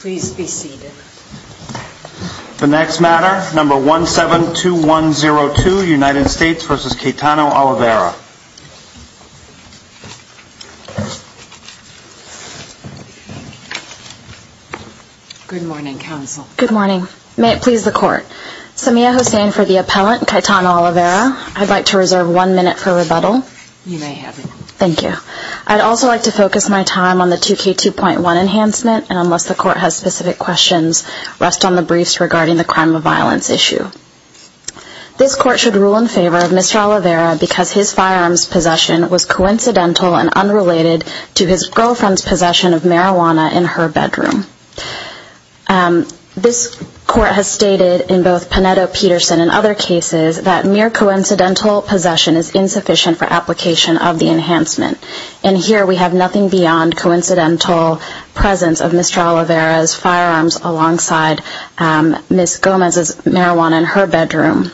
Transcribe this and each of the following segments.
Please be seated. The next matter, number 172102 United States v. Caetano Oliveira. Good morning, counsel. Good morning. May it please the court. Samia Hussain for the appellant, Caetano Oliveira. I'd like to reserve one minute for rebuttal. You may have it. Thank you. I'd also like to focus my time on the 2K2.1 enhancement, and unless the court has specific questions, rest on the briefs regarding the crime of violence issue. This court should rule in favor of Mr. Oliveira because his firearms possession was coincidental and unrelated to his girlfriend's possession of marijuana in her bedroom. This court has stated in both Panetto-Peterson and other cases that mere coincidental possession is insufficient for application of the enhancement, and here we have nothing beyond coincidental presence of Mr. Oliveira's firearms alongside Ms. Gomez's marijuana in her bedroom.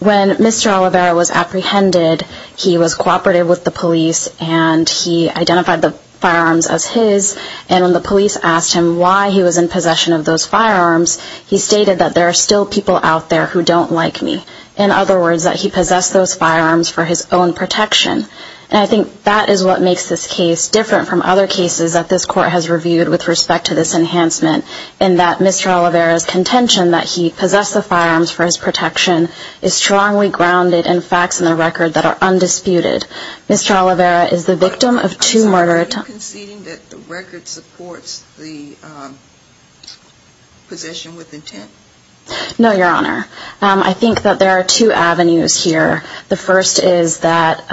When Mr. Oliveira was apprehended, he was cooperative with the police and he identified the firearms as his, and when the police asked him why he was in possession of those firearms, he stated that there are still people out there who don't like me. In other words, that he possessed those firearms for his own protection, and I think that is what makes this case different from other cases that this court has reviewed with respect to this enhancement in that Mr. Oliveira's contention that he possessed the firearms for his protection is strongly grounded in facts in the record that are undisputed. Mr. Oliveira is the victim of two murder attempts. Are you conceding that the record supports the possession with intent? No, Your Honor. I think that there are two avenues here. The first is that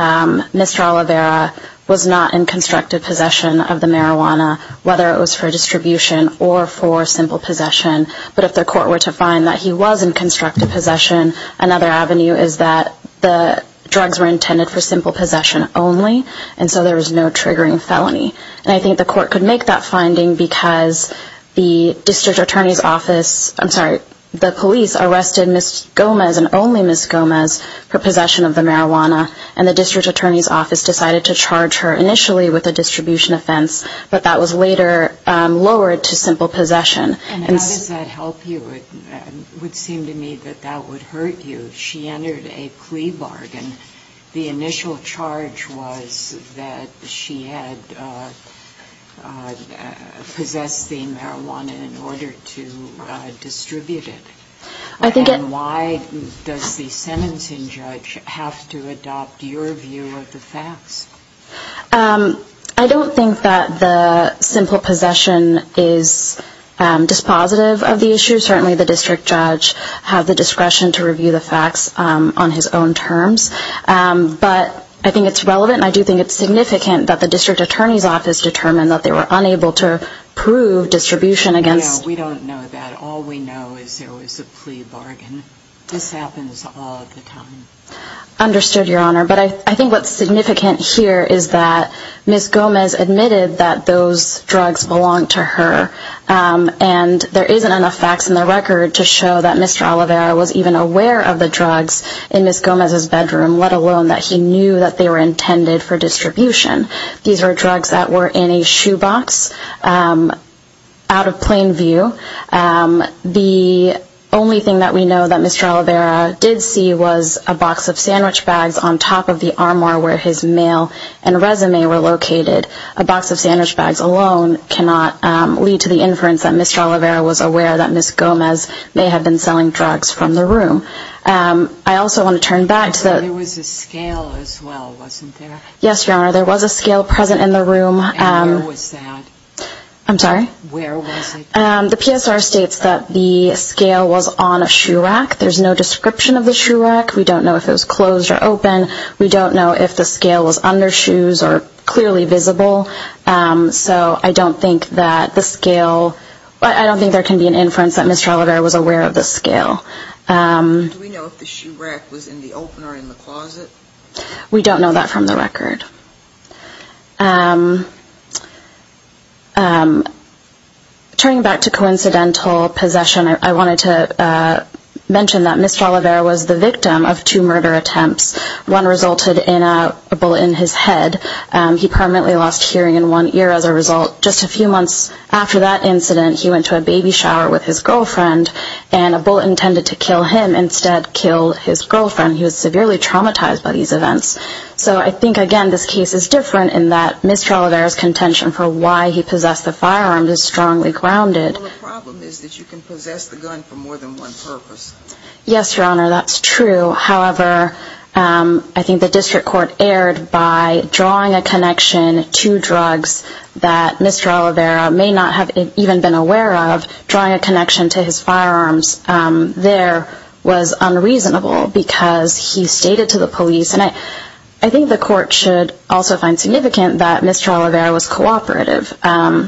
Mr. Oliveira was not in constructive possession of the marijuana, whether it was for distribution or for simple possession, but if the court were to find that he was in constructive possession, another avenue is that the drugs were intended for simple possession only, and so there was no triggering felony, and I think the court could make that finding because the District Attorney's Office, I'm sorry, the police arrested Ms. Gomez and only Ms. Gomez for possession of the marijuana, and the District Attorney's Office decided to charge her initially with a distribution offense, but that was later lowered to simple possession. And how does that help you? It would seem to me that that would hurt you. If she entered a plea bargain, the initial charge was that she had possessed the marijuana in order to distribute it. And why does the sentencing judge have to adopt your view of the facts? I don't think that the simple possession is dispositive of the issue. Certainly the district judge has the discretion to review the facts on his own terms, but I think it's relevant, and I do think it's significant that the District Attorney's Office determined that they were unable to prove distribution against... No, we don't know that. All we know is there was a plea bargain. This happens all the time. Understood, Your Honor. But I think what's significant here is that Ms. Gomez admitted that those drugs belonged to her, and there isn't enough facts in the record to show that Mr. Oliveira was even aware of the drugs in Ms. Gomez's bedroom, let alone that he knew that they were intended for distribution. These were drugs that were in a shoebox, out of plain view. The only thing that we know that Mr. Oliveira did see was a box of sandwich bags on top of the armor where his mail and resume were located. A box of sandwich bags alone cannot lead to the inference that Mr. Oliveira was aware that Ms. Gomez may have been selling drugs from the room. I also want to turn back to the... There was a scale as well, wasn't there? Yes, Your Honor, there was a scale present in the room. And where was that? I'm sorry? Where was it? The PSR states that the scale was on a shoe rack. There's no description of the shoe rack. We don't know if it was closed or open. We don't know if the scale was under shoes or clearly visible. So I don't think that the scale... I don't think there can be an inference that Mr. Oliveira was aware of the scale. Do we know if the shoe rack was in the open or in the closet? We don't know that from the record. Turning back to coincidental possession, I wanted to mention that Mr. Oliveira was the The gun resulted in a bullet in his head. He permanently lost hearing in one ear as a result. Just a few months after that incident, he went to a baby shower with his girlfriend, and a bullet intended to kill him instead killed his girlfriend. He was severely traumatized by these events. So I think, again, this case is different in that Mr. Oliveira's contention for why he possessed the firearms is strongly grounded. Well, the problem is that you can possess the gun for more than one purpose. Yes, Your Honor, that's true. However, I think the district court erred by drawing a connection to drugs that Mr. Oliveira may not have even been aware of. Drawing a connection to his firearms there was unreasonable because he stated to the police. And I think the court should also find significant that Mr. Oliveira was cooperative.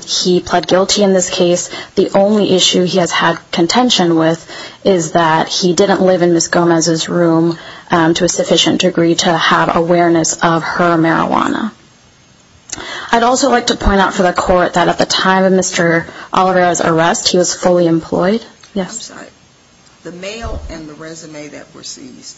He pled guilty in this case. The only issue he has had contention with is that he didn't live in Ms. Gomez's room to a sufficient degree to have awareness of her marijuana. I'd also like to point out for the court that at the time of Mr. Oliveira's arrest, he was fully employed. The mail and the resume that were seized,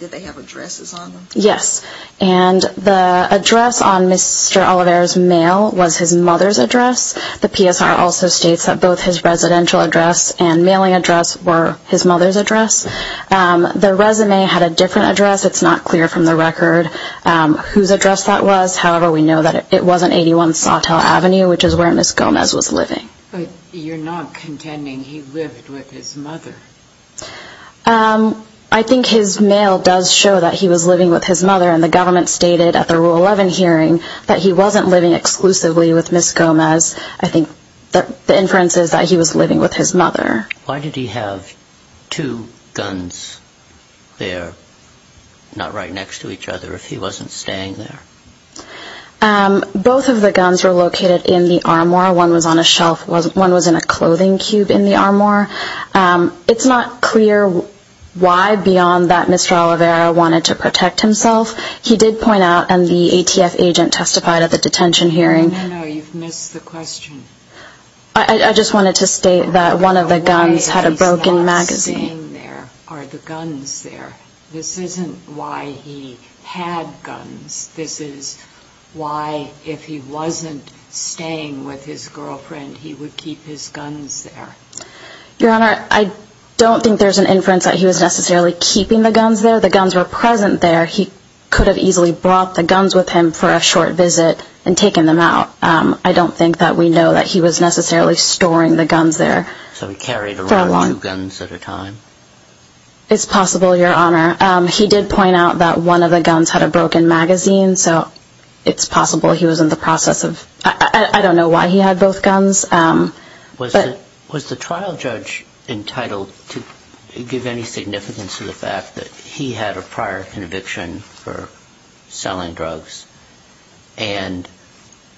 did they have addresses on them? Yes, and the address on Mr. Oliveira's mail was his mother's address. The PSR also states that both his residential address and mailing address were his mother's address. The resume had a different address. It's not clear from the record whose address that was. However, we know that it was on 81 Sawtelle Avenue, which is where Ms. Gomez was living. But you're not contending he lived with his mother. I think his mail does show that he was living with his mother, and the government stated at the Rule 11 hearing that he wasn't living exclusively with Ms. Gomez. I think the inference is that he was living with his mother. Why did he have two guns there, not right next to each other, if he wasn't staying there? Both of the guns were located in the armor. One was on a shelf. One was in a clothing cube in the armor. It's not clear why beyond that Mr. Oliveira wanted to protect himself. He did point out, and the ATF agent testified at the detention hearing. No, no, no, you've missed the question. I just wanted to state that one of the guns had a broken magazine. The way that he's not staying there are the guns there. This isn't why he had guns. This is why if he wasn't staying with his girlfriend, he would keep his guns there. Your Honor, I don't think there's an inference that he was necessarily keeping the guns there. The guns were present there. He could have easily brought the guns with him for a short visit and taken them out. I don't think that we know that he was necessarily storing the guns there. So he carried around two guns at a time? It's possible, Your Honor. He did point out that one of the guns had a broken magazine, so it's possible he was in the process of... I don't know why he had both guns. Was the trial judge entitled to give any significance to the fact that he had a prior conviction for selling drugs and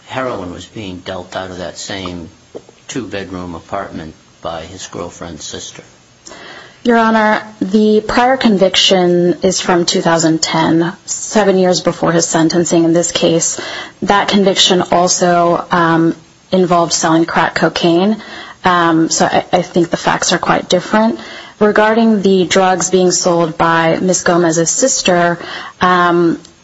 heroin was being dealt out of that same two-bedroom apartment by his girlfriend's sister? Your Honor, the prior conviction is from 2010, seven years before his sentencing in this case. That conviction also involved selling crack cocaine. So I think the facts are quite different. Regarding the drugs being sold by Ms. Gomez's sister,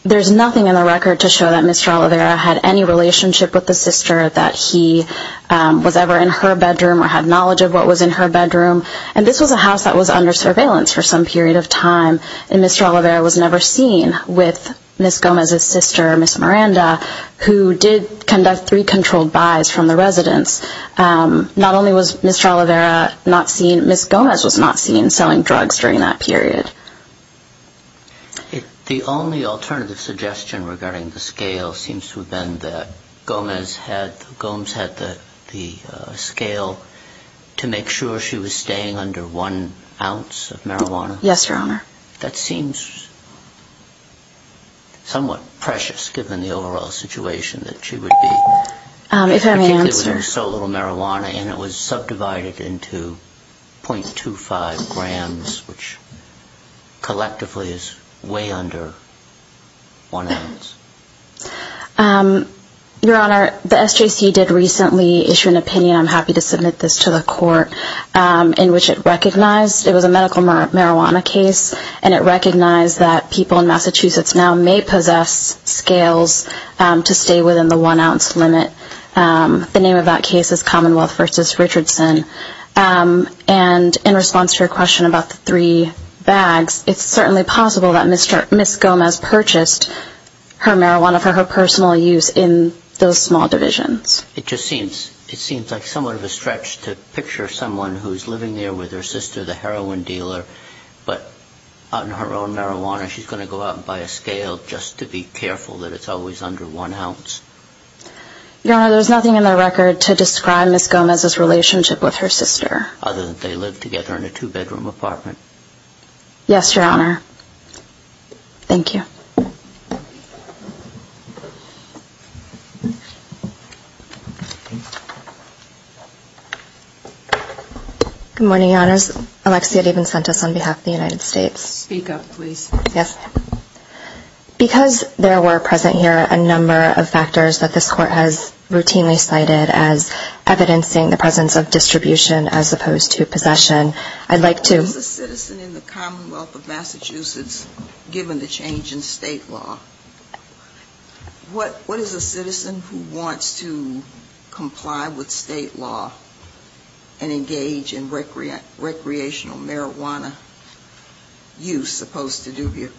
there's nothing in the record to show that Mr. Oliveira had any relationship with the sister, that he was ever in her bedroom or had knowledge of what was in her bedroom. And this was a house that was under surveillance for some period of time, and Mr. Oliveira was never seen with Ms. Gomez's sister, Ms. Miranda, who did conduct three controlled buys from the residence. Not only was Mr. Oliveira not seen, Ms. Gomez was not seen selling drugs during that period. The only alternative suggestion regarding the scale seems to have been that Gomez had the scale to make sure she was staying under one ounce of marijuana? Yes, Your Honor. That seems somewhat precious, given the overall situation that she would be in. If I may answer. Particularly with so little marijuana, and it was subdivided into 0.25 grams, which collectively is way under one ounce. Your Honor, the SJC did recently issue an opinion, I'm happy to submit this to the court, in which it recognized it was a medical marijuana case, and it recognized that people in Massachusetts now may possess scales to stay within the one ounce limit. The name of that case is Commonwealth v. Richardson. And in response to your question about the three bags, it's certainly possible that Ms. Gomez purchased her marijuana for her personal use in those small divisions. It just seems like somewhat of a stretch to picture someone who's living there with her sister, the heroin dealer, but on her own marijuana, she's going to go out and buy a scale just to be careful that it's always under one ounce. Your Honor, there's nothing in the record to describe Ms. Gomez's relationship with her sister. Other than they lived together in a two-bedroom apartment. Yes, Your Honor. Thank you. Good morning, Your Honors. Alexia Devencentis on behalf of the United States. Speak up, please. Yes. Because there were present here a number of factors that this Court has routinely cited as evidencing the presence of distribution as opposed to possession, I'd like to... As a citizen in the Commonwealth of Massachusetts, given the change in state law, what is a citizen who wants to comply with state law and engage in recreational marijuana use supposed to do here?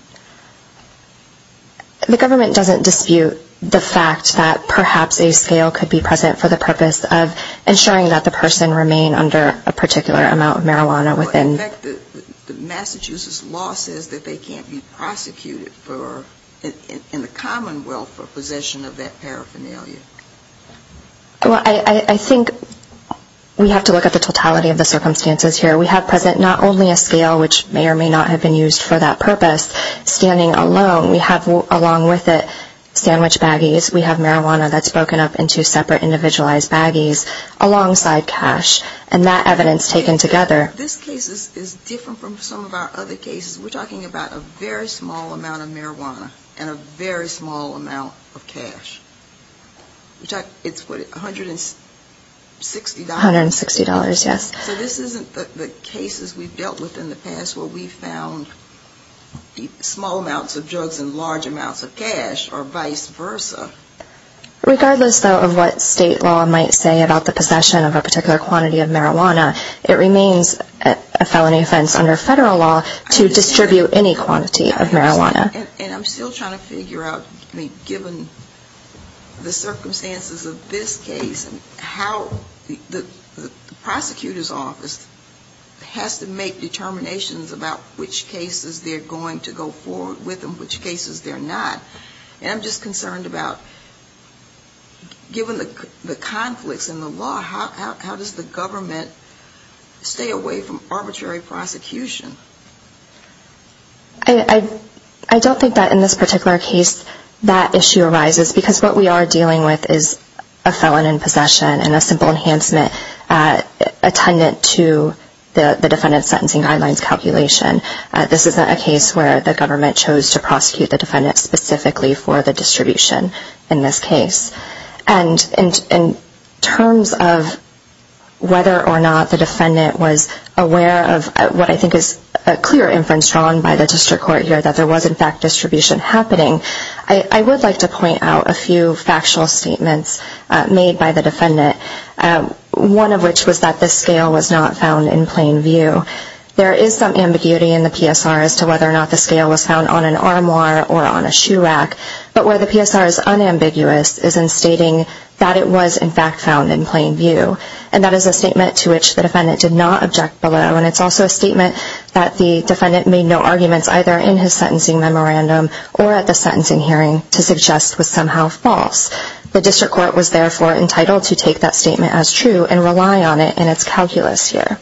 The government doesn't dispute the fact that perhaps a scale could be present for the purpose of ensuring that the person remain under a particular amount of marijuana within... In fact, the Massachusetts law says that they can't be prosecuted in the Commonwealth for possession of that paraphernalia. Well, I think we have to look at the totality of the circumstances here. We have present not only a scale, which may or may not have been used for that purpose, standing alone. We have along with it sandwich baggies. We have marijuana that's broken up into separate individualized baggies alongside cash. And that evidence taken together... This case is different from some of our other cases. We're talking about a very small amount of marijuana and a very small amount of cash. It's what, $160? $160, yes. So this isn't the cases we've dealt with in the past where we found small amounts of drugs and large amounts of cash, or vice versa. Regardless, though, of what state law might say about the possession of a particular quantity of marijuana, it remains a felony offense under federal law to distribute any quantity of marijuana. And I'm still trying to figure out, I mean, given the circumstances of this case and how the prosecutor's office has to make determinations about which cases they're going to go forward with and which cases they're not. And I'm just concerned about, given the conflicts in the law, how does the government stay away from arbitrary prosecution? I don't think that in this particular case that issue arises, because what we are dealing with is a felon in possession and a simple enhancement attendant to the defendant's sentencing guidelines calculation. This is a case where the government chose to prosecute the defendant specifically for the distribution in this case. And in terms of whether or not the defendant was aware of what I think is a clear inference drawn by the district court here that there was, in fact, distribution happening, I would like to point out a few factual statements made by the defendant, one of which was that the scale was not found in plain view. There is some ambiguity in the PSR as to whether or not the scale was found on an armoire or on a shoe rack. But where the PSR is unambiguous is in stating that it was, in fact, found in plain view. And that is a statement to which the defendant did not object below. And it's also a statement that the defendant made no arguments, either in his sentencing memorandum or at the sentencing hearing, to suggest was somehow false. The district court was, therefore, entitled to take that statement as true and rely on it in its calculus here.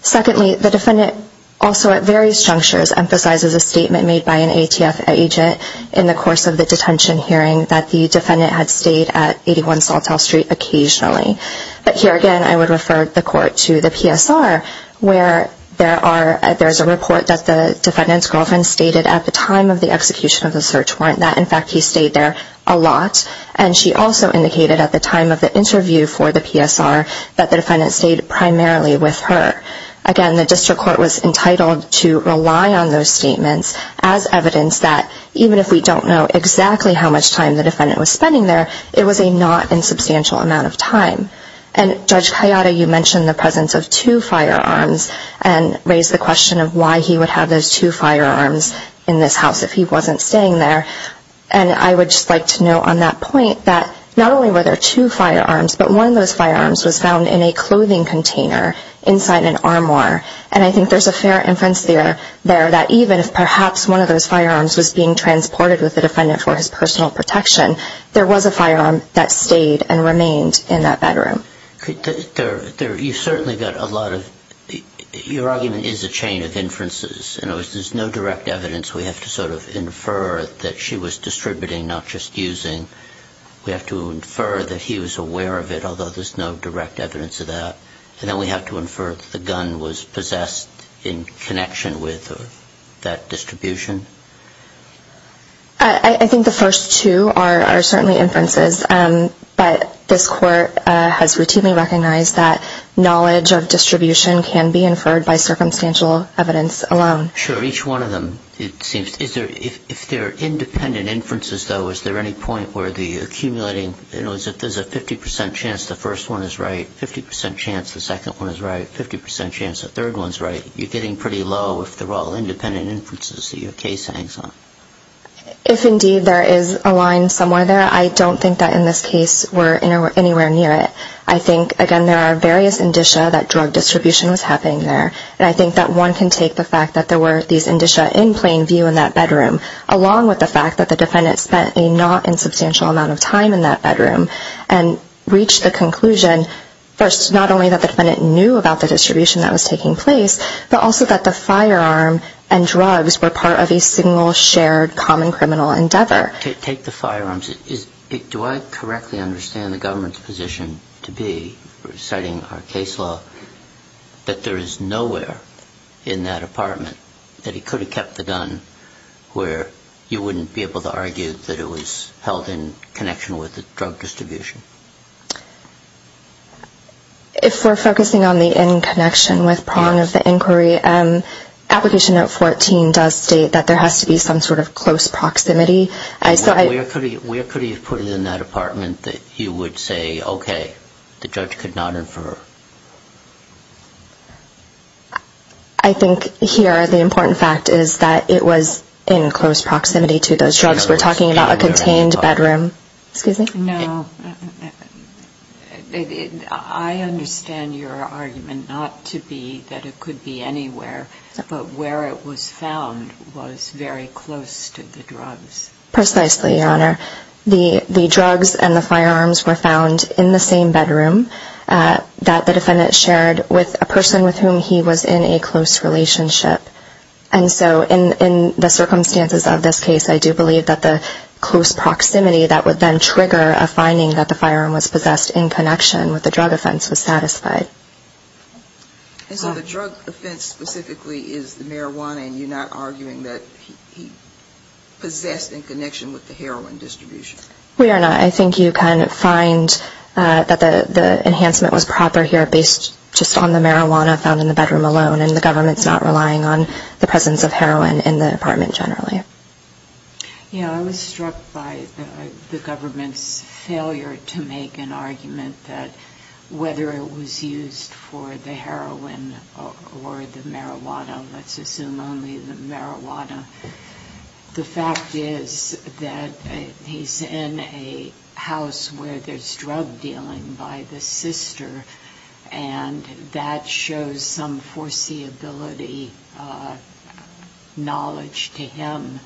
Secondly, the defendant also at various junctures emphasizes a statement made by an ATF agent in the course of the detention hearing that the defendant had stayed at 81 Saltel Street occasionally. But here, again, I would refer the court to the PSR, where there is a report that the defendant's girlfriend stated at the time of the execution of the search warrant that, in fact, he stayed there a lot. And she also indicated at the time of the interview for the PSR that the defendant stayed primarily with her. Again, the district court was entitled to rely on those statements as evidence that, even if we don't know exactly how much time the defendant was spending there, it was a not insubstantial amount of time. And, Judge Kayada, you mentioned the presence of two firearms and raised the question of why he would have those two firearms in this house if he wasn't staying there. And I would just like to note on that point that not only were there two firearms, but one of those firearms was found in a clothing container inside an armoire. And I think there's a fair inference there that, even if perhaps one of those firearms was being transported with the defendant for his personal protection, there was a firearm that stayed and remained in that bedroom. You've certainly got a lot of – your argument is a chain of inferences. In other words, there's no direct evidence. We have to sort of infer that she was distributing, not just using. We have to infer that he was aware of it, although there's no direct evidence of that. And then we have to infer that the gun was possessed in connection with that distribution. I think the first two are certainly inferences. But this Court has routinely recognized that knowledge of distribution can be inferred by circumstantial evidence alone. Sure. Each one of them, it seems. If they're independent inferences, though, is there any point where the accumulating – in other words, if there's a 50 percent chance the first one is right, 50 percent chance the second one is right, 50 percent chance the third one is right, you're getting pretty low if they're all independent inferences that your case hangs on. If indeed there is a line somewhere there, I don't think that in this case we're anywhere near it. I think, again, there are various indicia that drug distribution was happening there. And I think that one can take the fact that there were these indicia in plain view in that bedroom, along with the fact that the defendant spent a not-insubstantial amount of time in that bedroom and reached the conclusion, first, not only that the defendant knew about the distribution that was taking place, but also that the firearm and drugs were part of a single, shared, common criminal endeavor. Take the firearms. Do I correctly understand the government's position to be, citing our case law, that there is nowhere in that apartment that he could have kept the gun where you wouldn't be able to argue that it was held in connection with the drug distribution? If we're focusing on the in connection with prong of the inquiry, application note 14 does state that there has to be some sort of close proximity. Where could he have put it in that apartment that he would say, okay, the judge could not infer? I think here the important fact is that it was in close proximity to those drugs. We're talking about a contained bedroom. No. I understand your argument not to be that it could be anywhere, but where it was found was very close to the drugs. Precisely, Your Honor. The drugs and the firearms were found in the same bedroom that the defendant shared with a person with whom he was in a close relationship. And so in the circumstances of this case, I do believe that the close proximity that would then trigger a finding that the firearm was possessed in connection with the drug offense was satisfied. And so the drug offense specifically is the marijuana, and you're not arguing that he possessed in connection with the heroin distribution? We are not. I think you can find that the enhancement was proper here based just on the marijuana found in the bedroom alone, and the government's not relying on the presence of heroin in the apartment generally. Yeah, I was struck by the government's failure to make an argument that whether it was used for the heroin or the marijuana, let's assume only the marijuana, the fact is that he's in a house where there's drug dealing by the sister, and that shows some foreseeability knowledge to him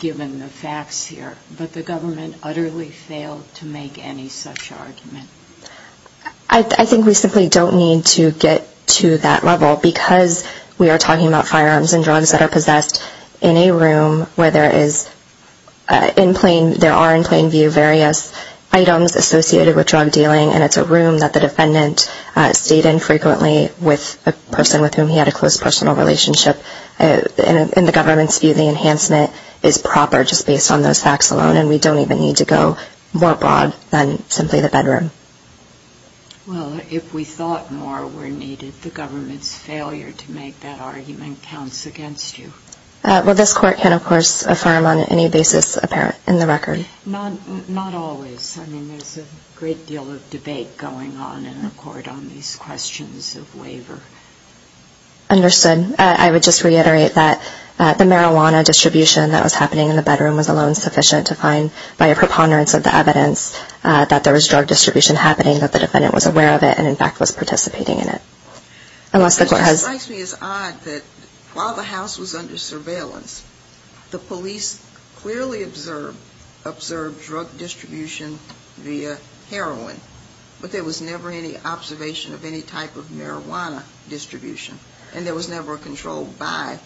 given the facts here. But the government utterly failed to make any such argument. I think we simply don't need to get to that level because we are talking about firearms and drugs that are possessed in a room where there are in plain view various items associated with drug dealing, and it's a room that the defendant stayed in frequently with a person with whom he had a close personal relationship. In the government's view, the enhancement is proper just based on those facts alone, and we don't even need to go more broad than simply the bedroom. Well, if we thought more were needed, the government's failure to make that argument counts against you. Well, this Court can, of course, affirm on any basis apparent in the record. Not always. I mean, there's a great deal of debate going on in the Court on these questions of waiver. Understood. I would just reiterate that the marijuana distribution that was happening in the bedroom was alone sufficient to find by a preponderance of the evidence that there was drug distribution happening, that the defendant was aware of it and, in fact, was participating in it. It strikes me as odd that while the house was under surveillance, the police clearly observed drug distribution via heroin, but there was never any observation of any type of marijuana distribution, and there was never a controlled buy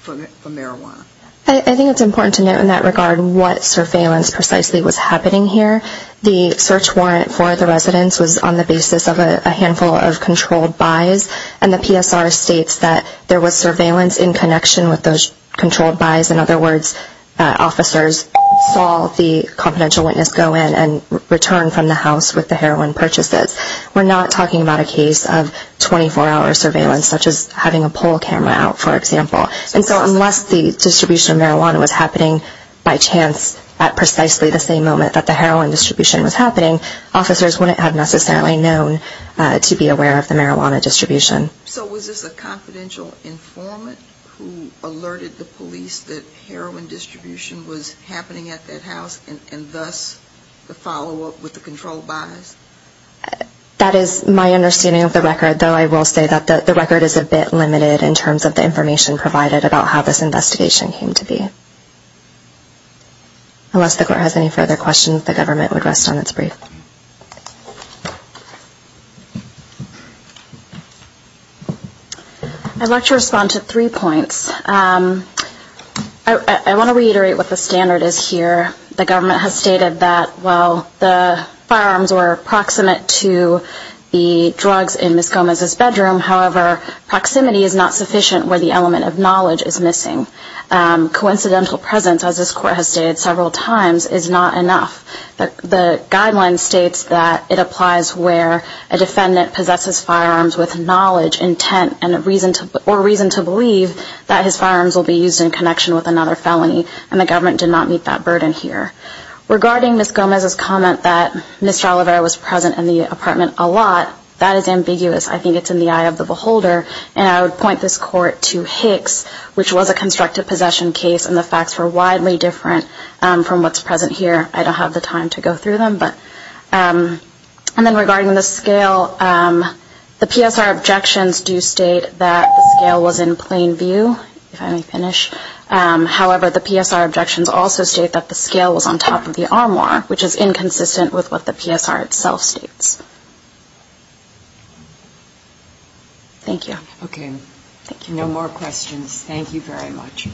for marijuana. I think it's important to note in that regard what surveillance precisely was happening here. The search warrant for the residence was on the basis of a handful of controlled buys, and the PSR states that there was surveillance in connection with those controlled buys. In other words, officers saw the confidential witness go in and return from the house with the heroin purchases. We're not talking about a case of 24-hour surveillance such as having a pole camera out, for example. And so unless the distribution of marijuana was happening by chance at precisely the same moment that the heroin distribution was happening, officers wouldn't have necessarily known to be aware of the marijuana distribution. So was this a confidential informant who alerted the police that heroin distribution was happening at that house and thus the follow-up with the controlled buys? That is my understanding of the record, though I will say that the record is a bit limited in terms of the information provided about how this investigation came to be. Unless the court has any further questions, the government would rest on its brief. I'd like to respond to three points. I want to reiterate what the standard is here. The government has stated that while the firearms were proximate to the drugs in Ms. Gomez's bedroom, however, proximity is not sufficient where the element of knowledge is missing. Coincidental presence, as this court has stated several times, is not enough. The guideline states that it applies where a defendant possesses firearms with knowledge, intent, or reason to believe that his firearms will be used in connection with another felony, and the government did not meet that burden here. Regarding Ms. Gomez's comment that Mr. Oliveira was present in the apartment a lot, that is ambiguous. I think it's in the eye of the beholder. And I would point this court to Hicks, which was a constructive possession case, and the facts were widely different from what's present here. I don't have the time to go through them. And then regarding the scale, the PSR objections do state that the scale was in plain view, if I may finish. However, the PSR objections also state that the scale was on top of the armoire, which is inconsistent with what the PSR itself states. Thank you. Okay. Thank you. No more questions. Thank you very much.